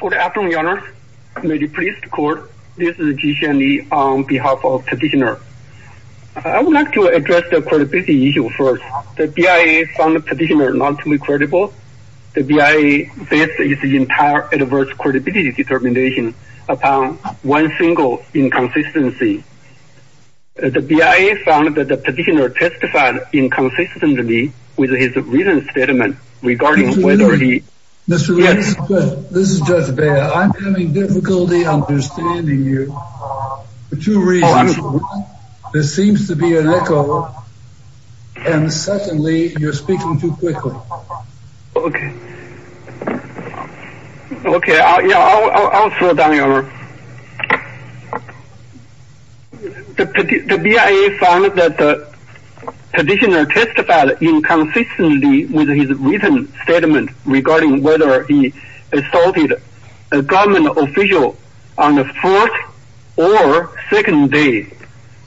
Good afternoon, Your Honor. May the police court, this is Ji Xianli on behalf of petitioner. I would like to address the credibility issue first. The BIA found the petitioner not to be credible. The BIA based its entire adverse credibility determination upon one single inconsistency. The BIA found that the petitioner testified inconsistently with his written statement regarding whether he... Mr. Williams, this is Judge Beyer. I'm having difficulty understanding you for two reasons. One, there seems to be an echo. And secondly, you're speaking too quickly. Okay. Okay, I'll slow down, Your Honor. The BIA found that the petitioner testified inconsistently with his written statement regarding whether he assaulted a government official on the fourth or second day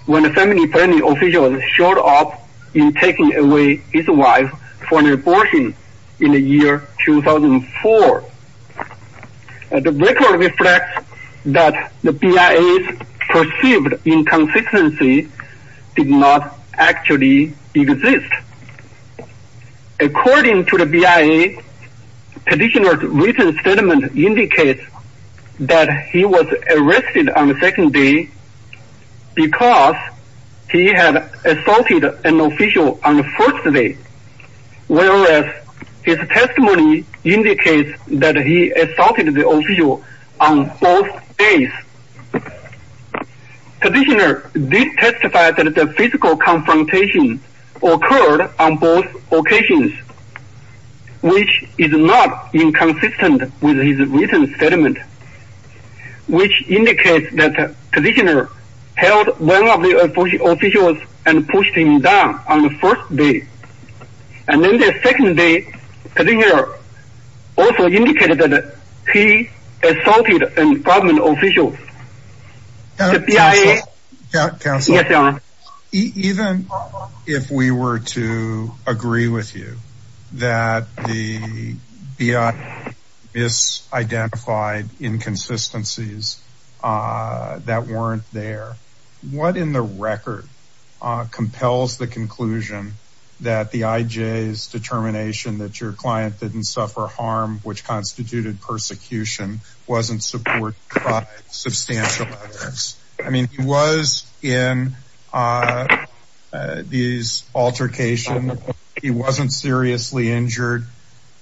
when a family planning official showed up in taking away his wife for an abortion in the year 2004. The record reflects that the BIA's perceived inconsistency did not actually exist. According to the BIA, petitioner's written statement indicates that he was arrested on the second day because he had assaulted an official on the first day. Whereas his testimony indicates that he assaulted the official on both days. Petitioner did testify that the physical confrontation occurred on both occasions, which is not inconsistent with his written statement, which indicates that petitioner held one of the officials and pushed him down on the first day. And then the second day, petitioner also indicated that he assaulted a government official. Counsel, even if we were to agree with you that the BIA misidentified inconsistencies that weren't there, what in the record compels the conclusion that the IJ's determination that your client didn't suffer harm, which constituted persecution, wasn't supported by substantial evidence? I mean, he was in these altercations. He wasn't seriously injured.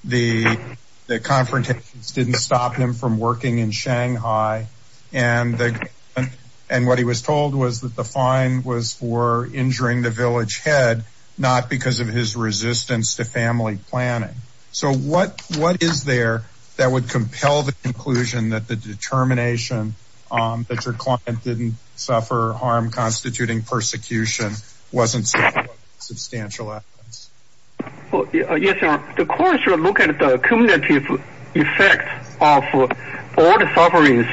The confrontations didn't stop him from working in Shanghai. And what he was told was that the fine was for injuring the village head, not because of his resistance to family planning. So what is there that would compel the conclusion that the determination that your client didn't suffer harm, constituting persecution, wasn't substantial evidence? Yes, sir. The court should look at the cumulative effect of all the sufferings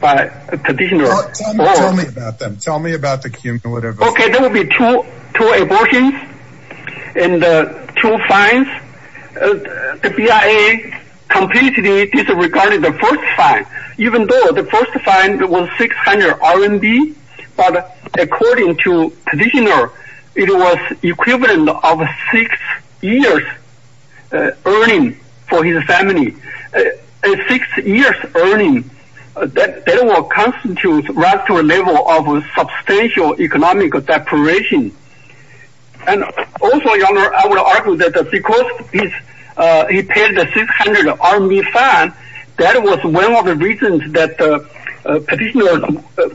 by petitioner. Tell me about them. Tell me about the cumulative. OK, there will be two abortions and two fines. The BIA completely disregarded the first fine, even though the first fine was 600 RMB. But according to petitioner, it was equivalent of six years earning for his family. Six years earning, that will constitute right to a level of substantial economic deprivation. And also, I would argue that because he paid the 600 RMB fine, that was one of the reasons that petitioner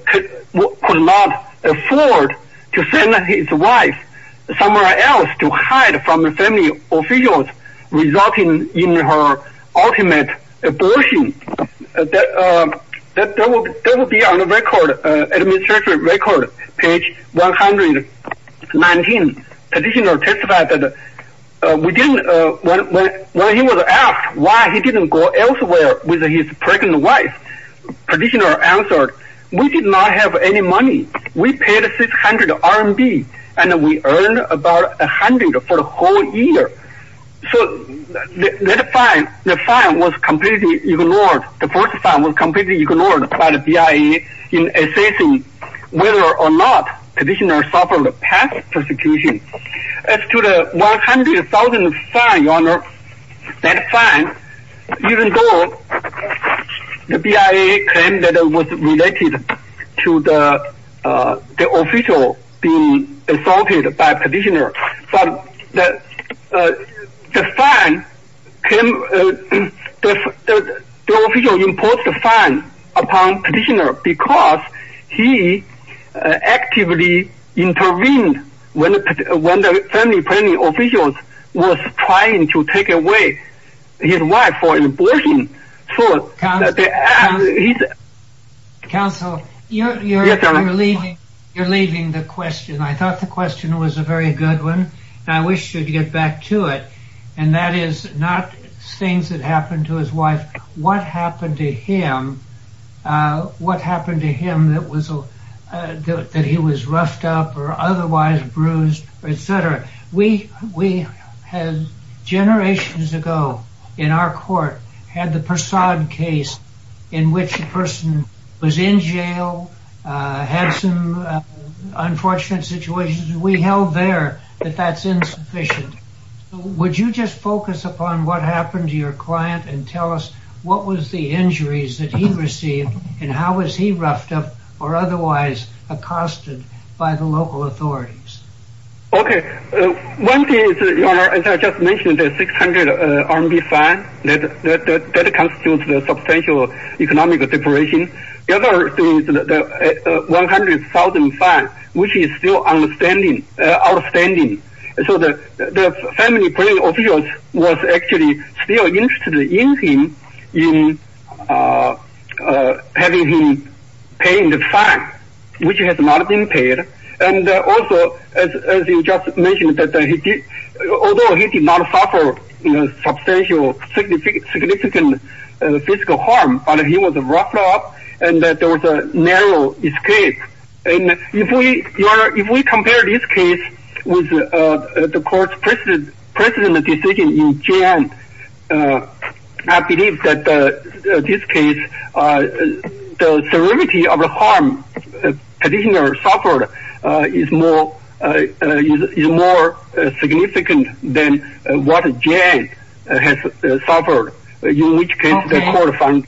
could not afford to send his wife somewhere else to hide from the family officials, resulting in her ultimate abortion. That will be on the record, administrative record, page 119. Petitioner testified that when he was asked why he didn't go elsewhere with his pregnant wife, petitioner answered, we did not have any money. We paid 600 RMB and we earned about 100 for the whole year. So that fine was completely ignored. The first fine was completely ignored by the BIA in assessing whether or not petitioner suffered past persecution. As to the 100,000 fine, your honor, that fine, even though the BIA claimed that it was related to the official being assaulted by petitioner, the official imposed the fine upon petitioner because he actively intervened when the family planning official was trying to take away his wife for abortion. Counsel, you're leaving the question. I thought the question was a very good one. I wish you'd get back to it. And that is not things that happened to his wife, what happened to him that he was roughed up or otherwise bruised, etc. Generations ago in our court had the Persaud case in which a person was in jail, had some unfortunate situations. We held there that that's insufficient. Would you just focus upon what happened to your client and tell us what was the injuries that he received and how was he roughed up or otherwise accosted by the local authorities? Okay. One thing is, your honor, as I just mentioned, the 600 RMB fine, that constitutes the substantial economic deprivation. The other thing is the 100,000 fine, which is still outstanding. So the family planning official was actually still interested in him, in having him pay the fine, which has not been paid. And also, as you just mentioned, although he did not suffer substantial, significant physical harm, he was roughed up and there was a narrow escape. And if we compare this case with the court's precedent decision in Jan, I believe that this case, the severity of the harm the petitioner suffered is more significant than what Jan has suffered, in which case the court finds...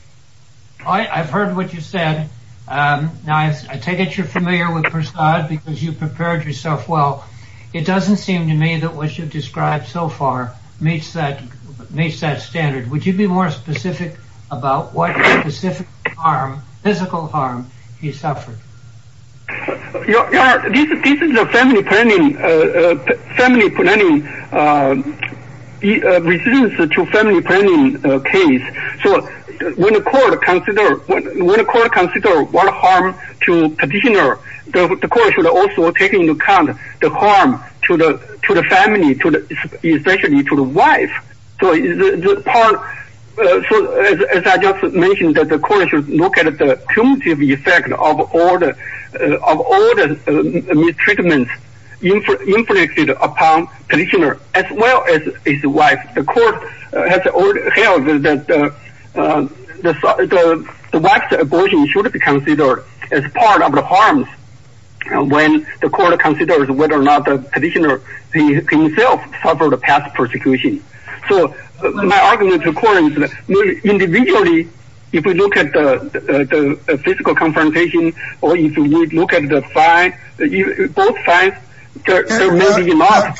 I've heard what you said. Now, I take it you're familiar with Persaud because you prepared yourself well. It doesn't seem to me that what you've described so far meets that standard. Would you be more specific about what specific harm, physical harm, he suffered? Your honor, this is a family planning, family planning, resistance to family planning case. So when the court consider what harm to petitioner, the court should also take into account the harm to the family, especially to the wife. So as I just mentioned, the court should look at the cumulative effect of all the mistreatment inflicted upon petitioner, as well as his wife. The court has held that the wife's abortion should be considered as part of the harm when the court considers whether or not the petitioner himself suffered a past persecution. So my argument to the court is that individually, if we look at the physical confrontation, or if we look at the both sides, there may be a lot...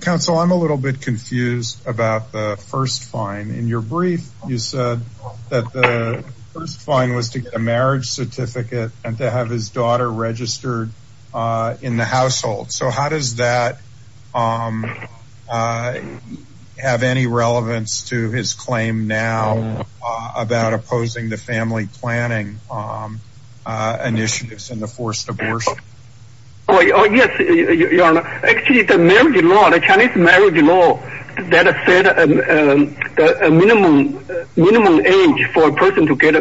Counsel, I'm a little bit confused about the first fine. In your brief, you said that the first fine was to get a marriage certificate and to have his daughter registered in the household. So how does that have any relevance to his claim now about opposing the family planning initiatives and the forced abortion? Oh yes, Your Honor. Actually, the marriage law, the Chinese marriage law, that set a minimum age for a person to get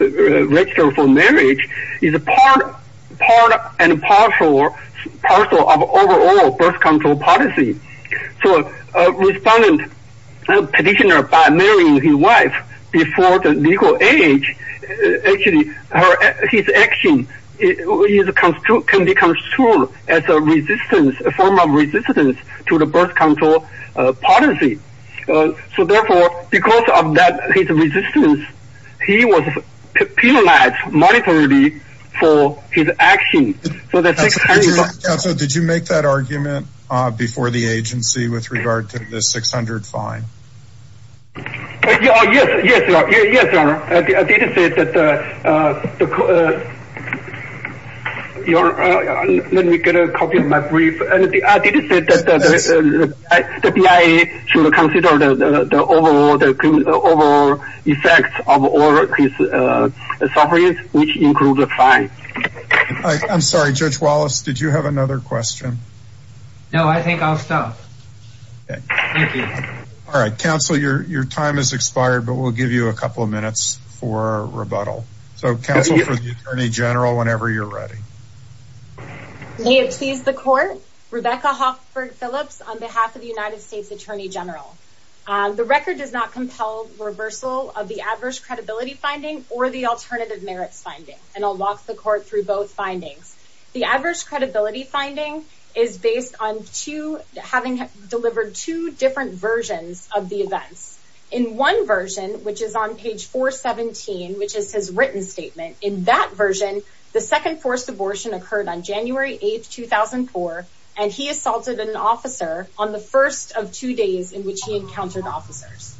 registered for marriage is part and parcel of overall birth control policy. So a respondent petitioner by marrying his wife before the legal age, actually, his action can be construed as a form of resistance to the birth control policy. So therefore, because of his resistance, he was penalized monetarily for his action. Counsel, did you make that argument before the agency with regard to the 600 fine? Yes, Your Honor. I did say that... Let me get a copy of my brief. I did say that the BIA should consider the overall effects of all his sufferings, which include the fine. I'm sorry, Judge Wallace, did you have another question? No, I think I'll stop. Thank you. All right, Counsel, your time has expired, but we'll give you a couple of minutes for rebuttal. So, Counsel, for the Attorney General, whenever you're ready. May it please the Court, Rebecca Hofford Phillips on behalf of the United States Attorney General. The record does not compel reversal of the adverse credibility finding or the alternative merits finding, and I'll walk the Court through both findings. The adverse credibility finding is based on having delivered two different versions of the events. In one version, which is on page 417, which is his written statement, in that version, the second forced abortion occurred on January 8, 2004, and he assaulted an officer on the first of two days in which he encountered officers.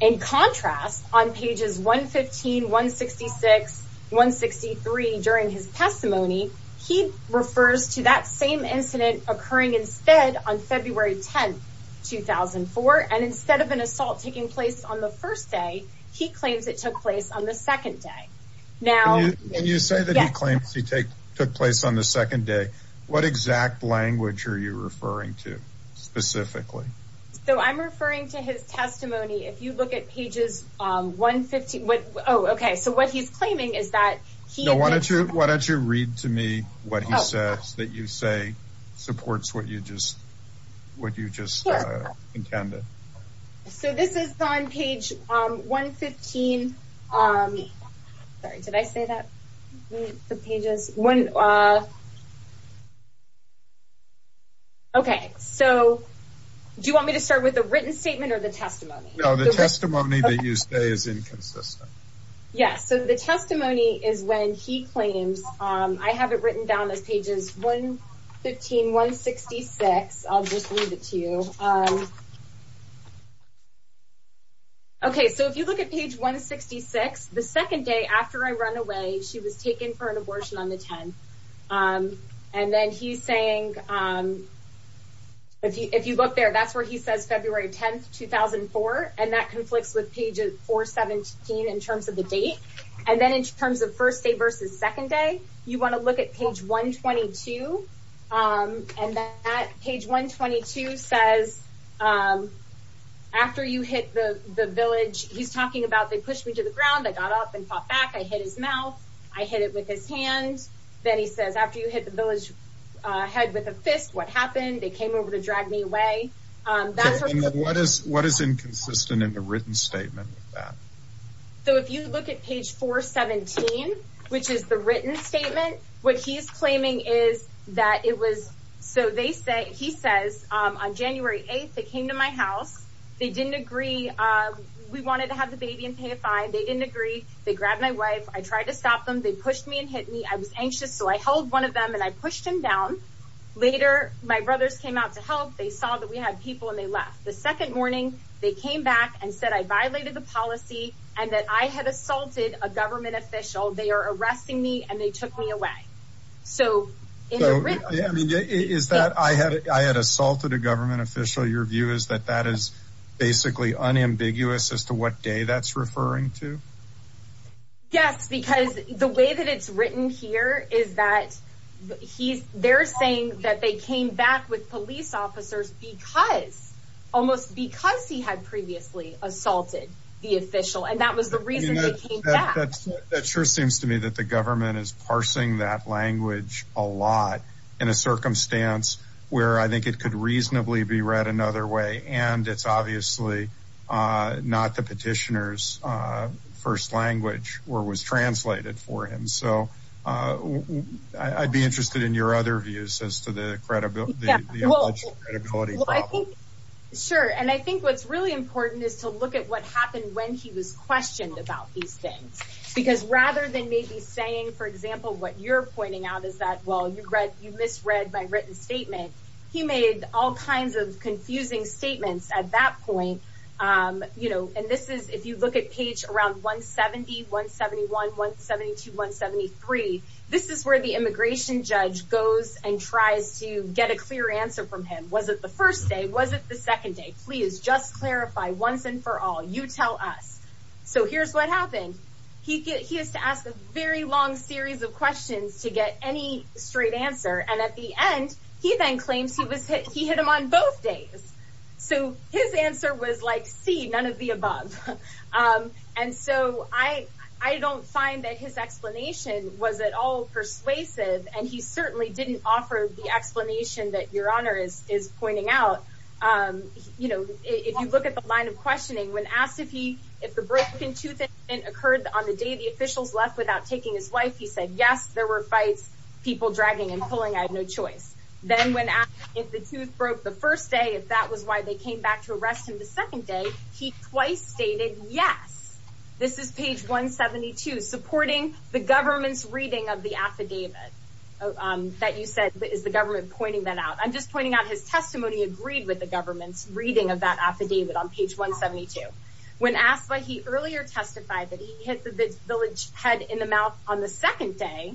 In contrast, on pages 115, 166, 163, during his testimony, he refers to that same incident occurring instead on February 10, 2004, and instead of an assault taking place on the first day, he claims it took place on the second day. Can you say that he claims it took place on the second day? So, I'm referring to his testimony. If you look at pages 115. Oh, okay. So, what he's claiming is that he... No, why don't you read to me what he says that you say supports what you just intended. So, this is on page 115. Sorry, did I say that? The pages... Okay, so, do you want me to start with the written statement or the testimony? No, the testimony that you say is inconsistent. Yes, so the testimony is when he claims... I have it written down as pages 115, 166. I'll just leave it to you. Okay, so if you look at page 166, the second day after I run away, she was taken for an abortion on the 10th. And then he's saying, if you look there, that's where he says February 10, 2004, and that conflicts with pages 417 in terms of the date. And then in terms of first day versus second day, you want to look at page 122, and that page 122 says, after you hit the village, he's talking about, they pushed me to the ground, I got up and fought back, I hit his mouth, I hit it with his hand. Then he says, after you hit the village head with a fist, what happened? They came over to drag me away. What is inconsistent in the written statement with that? So, if you look at page 417, which is the written statement, what he's claiming is that it was, so he says, on January 8, they came to my house. They didn't agree. We wanted to have the baby and pay a fine. They didn't agree. They grabbed my wife. I tried to stop them. They pushed me and hit me. I was anxious, so I held one of them, and I pushed him down. Later, my brothers came out to help. They saw that we had people, and they left. The second morning, they came back and said I violated the policy and that I had assaulted a government official. They are arresting me, and they took me away. So, in the written— Is that I had assaulted a government official, your view is that that is basically unambiguous as to what day that's referring to? Yes, because the way that it's written here is that they're saying that they came back with police officers because, almost because he had previously assaulted the official, and that was the reason they came back. That sure seems to me that the government is parsing that language a lot in a circumstance where I think it could reasonably be read another way, and it's obviously not the petitioner's first language where it was translated for him. So, I'd be interested in your other views as to the alleged credibility problem. Sure, and I think what's really important is to look at what happened when he was questioned about these things because rather than maybe saying, for example, what you're pointing out is that, well, you misread my written statement, he made all kinds of confusing statements at that point, and this is, if you look at page around 170, 171, 172, 173, this is where the immigration judge goes and tries to get a clear answer from him. Was it the first day? Was it the second day? Please, just clarify once and for all. You tell us. So, here's what happened. He has to ask a very long series of questions to get any straight answer, and at the end, he then claims he hit him on both days. So, his answer was like, see, none of the above. And so, I don't find that his explanation was at all persuasive, and he certainly didn't offer the explanation that Your Honor is pointing out. You know, if you look at the line of questioning, when asked if the broken tooth incident occurred on the day the officials left without taking his wife, he said, yes, there were fights, people dragging and pulling, I had no choice. Then when asked if the tooth broke the first day, if that was why they came back to arrest him the second day, he twice stated, yes. This is page 172, supporting the government's reading of the affidavit that you said is the government pointing that out. I'm just pointing out his testimony agreed with the government's reading of that affidavit on page 172. When asked why he earlier testified that he hit the village head in the mouth on the second day,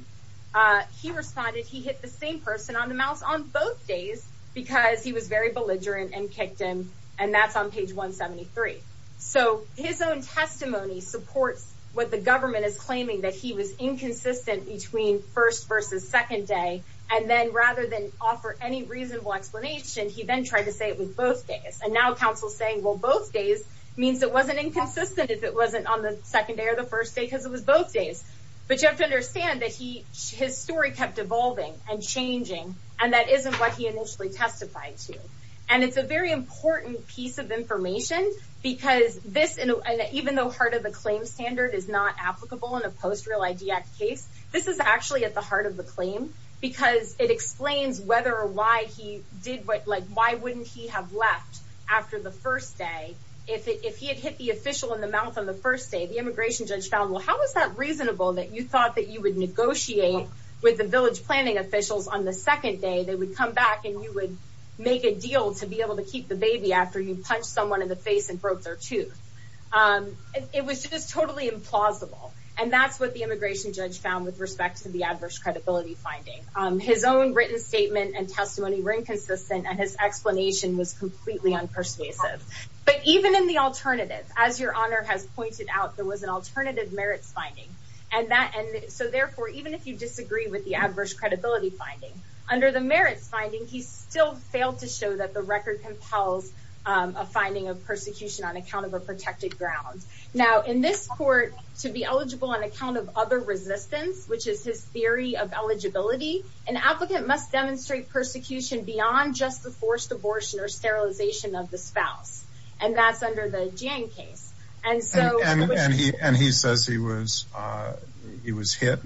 he responded he hit the same person on the mouth on both days because he was very belligerent and kicked him, and that's on page 173. So his own testimony supports what the government is claiming, that he was inconsistent between first versus second day, and then rather than offer any reasonable explanation, he then tried to say it was both days. And now counsel is saying, well, both days means it wasn't inconsistent if it wasn't on the second day or the first day because it was both days. But you have to understand that his story kept evolving and changing, and that isn't what he initially testified to. And it's a very important piece of information because this, even though part of the claim standard is not applicable in a post-Real ID Act case, this is actually at the heart of the claim because it explains whether or why he did what, like why wouldn't he have left after the first day. If he had hit the official in the mouth on the first day, the immigration judge found, well, how is that reasonable that you thought that you would negotiate with the village planning officials on the second day? They would come back and you would make a deal to be able to keep the baby after you punched someone in the face and broke their tooth. It was just totally implausible. And that's what the immigration judge found with respect to the adverse credibility finding. His own written statement and testimony were inconsistent, and his explanation was completely unpersuasive. But even in the alternative, as Your Honor has pointed out, there was an alternative merits finding. So therefore, even if you disagree with the adverse credibility finding, under the merits finding, he still failed to show that the record compels a finding of persecution on account of a protected ground. Now, in this court, to be eligible on account of other resistance, which is his theory of eligibility, an applicant must demonstrate persecution beyond just the forced abortion or sterilization of the spouse. And that's under the Jiang case. And he says he was hit.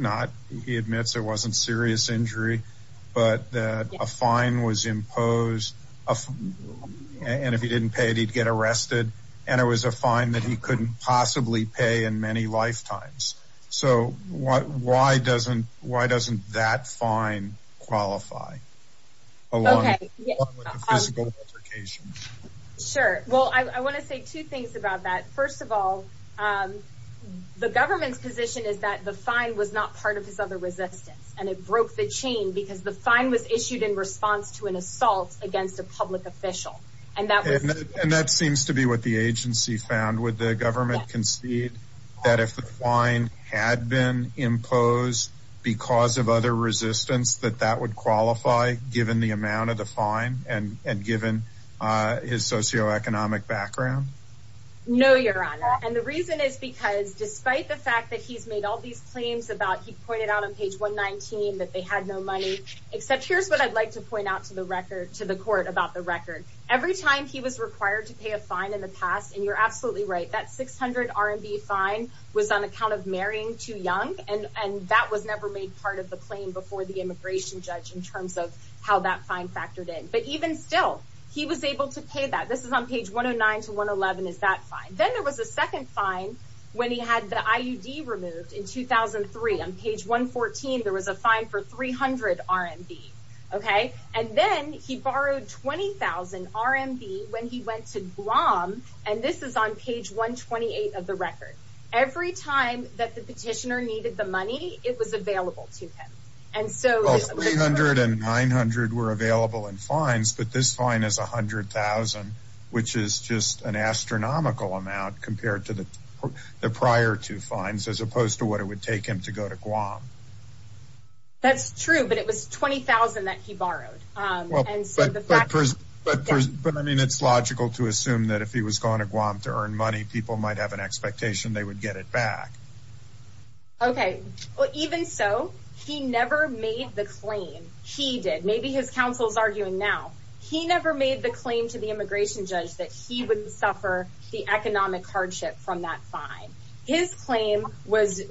He admits it wasn't serious injury, but that a fine was imposed. And if he didn't pay it, he'd get arrested. And it was a fine that he couldn't possibly pay in many lifetimes. So why doesn't that fine qualify along with the physical altercation? Sure. Well, I want to say two things about that. First of all, the government's position is that the fine was not part of his other resistance, and it broke the chain because the fine was issued in response to an assault against a public official. And that seems to be what the agency found. Would the government concede that if the fine had been imposed because of other resistance, that that would qualify given the amount of the fine and given his socioeconomic background? No, Your Honor. And the reason is because despite the fact that he's made all these claims about, he pointed out on page 119 that they had no money, except here's what I'd like to point out to the record to the court about the record. Every time he was required to pay a fine in the past, and you're absolutely right, that 600 RMB fine was on account of marrying too young. And that was never made part of the claim before the immigration judge in terms of how that fine factored in. But even still, he was able to pay that. This is on page 109 to 111 is that fine. Then there was a second fine when he had the IUD removed in 2003. On page 114, there was a fine for 300 RMB. And then he borrowed 20,000 RMB when he went to Guam, and this is on page 128 of the record. Every time that the petitioner needed the money, it was available to him. Well, 300 and 900 were available in fines, but this fine is 100,000, which is just an astronomical amount compared to the prior two fines, as opposed to what it would take him to go to Guam. That's true, but it was 20,000 that he borrowed. But I mean, it's logical to assume that if he was going to Guam to earn money, people might have an expectation they would get it back. Okay. Well, even so, he never made the claim. He did. Maybe his counsel is arguing now. He never made the claim to the immigration judge that he would suffer the economic hardship from that fine. His claim was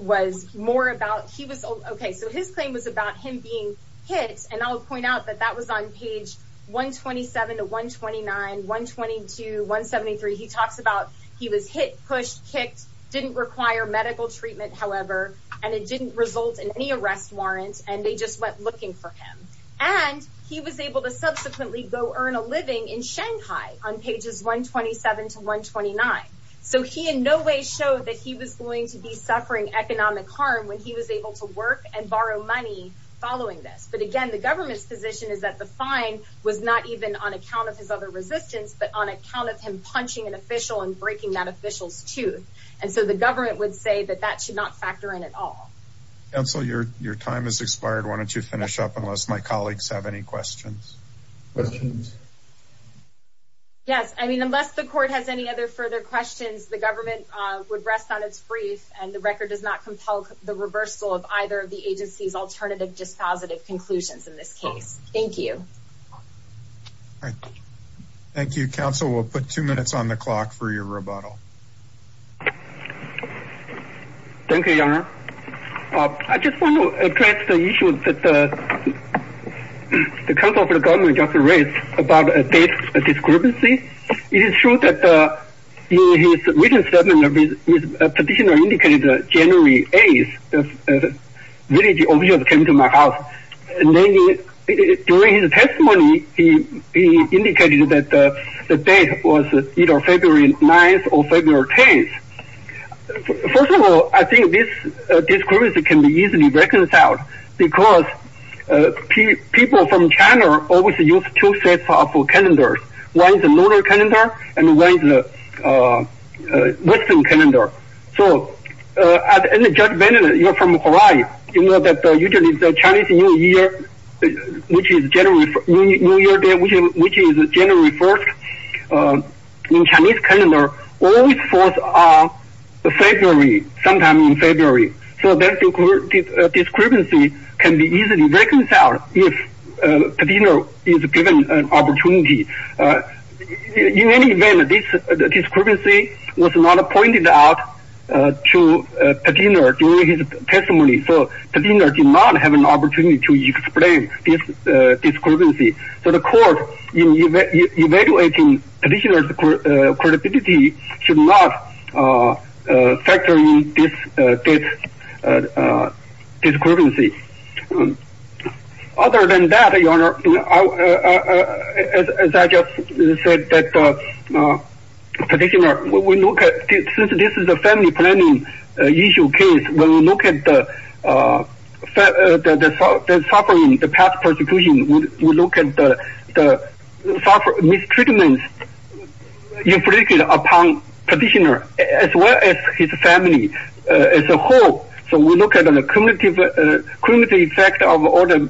more about he was, okay, so his claim was about him being hit, and I'll point out that that was on page 127 to 129, 122, 173. He talks about he was hit, pushed, kicked, didn't require medical treatment, however, and it didn't result in any arrest warrant, and they just went looking for him. And he was able to subsequently go earn a living in Shanghai on pages 127 to 129. So he in no way showed that he was going to be suffering economic harm when he was able to work and borrow money following this. But, again, the government's position is that the fine was not even on account of his other resistance, but on account of him punching an official and breaking that official's tooth. And so the government would say that that should not factor in at all. Counsel, your time has expired. Why don't you finish up unless my colleagues have any questions? Questions? Yes. I mean, unless the court has any other further questions, the government would rest on its brief, and the record does not compel the reversal of either of the agency's alternative dispositive conclusions in this case. Thank you. All right. Thank you, Counsel. We'll put two minutes on the clock for your rebuttal. Thank you, Your Honor. I just want to address the issue that the counsel for the government just raised about a death discrepancy. It is true that in his written statement, his petitioner indicated January 8th, when the village officials came to my house. And then during his testimony, he indicated that the date was either February 9th or February 10th. First of all, I think this discrepancy can be easily reconciled, because people from China always use two sets of calendars. One is a lunar calendar, and one is a western calendar. So, as Judge Bennett, you're from Hawaii, you know that usually the Chinese New Year, which is January 1st, in Chinese calendar, always falls on February, sometime in February. So that discrepancy can be easily reconciled if the petitioner is given an opportunity. In any event, this discrepancy was not pointed out to the petitioner during his testimony. So the petitioner did not have an opportunity to explain this discrepancy. So the court, in evaluating the petitioner's credibility, should not factor in this discrepancy. Other than that, as I just said, since this is a family planning issue case, when we look at the suffering, the past persecution, we look at the mistreatment inflicted upon petitioner, as well as his family as a whole. So we look at the cumulative effect of all the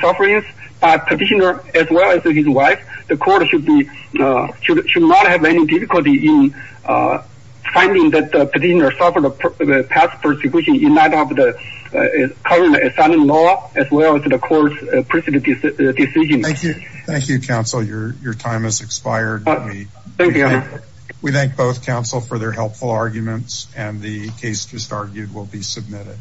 sufferings, petitioner as well as his wife. The court should not have any difficulty in finding that petitioner suffered past persecution in light of the current asylum law, as well as the court's decision. Thank you, counsel. Your time has expired. Thank you. We thank both counsel for their helpful arguments, and the case just argued will be submitted.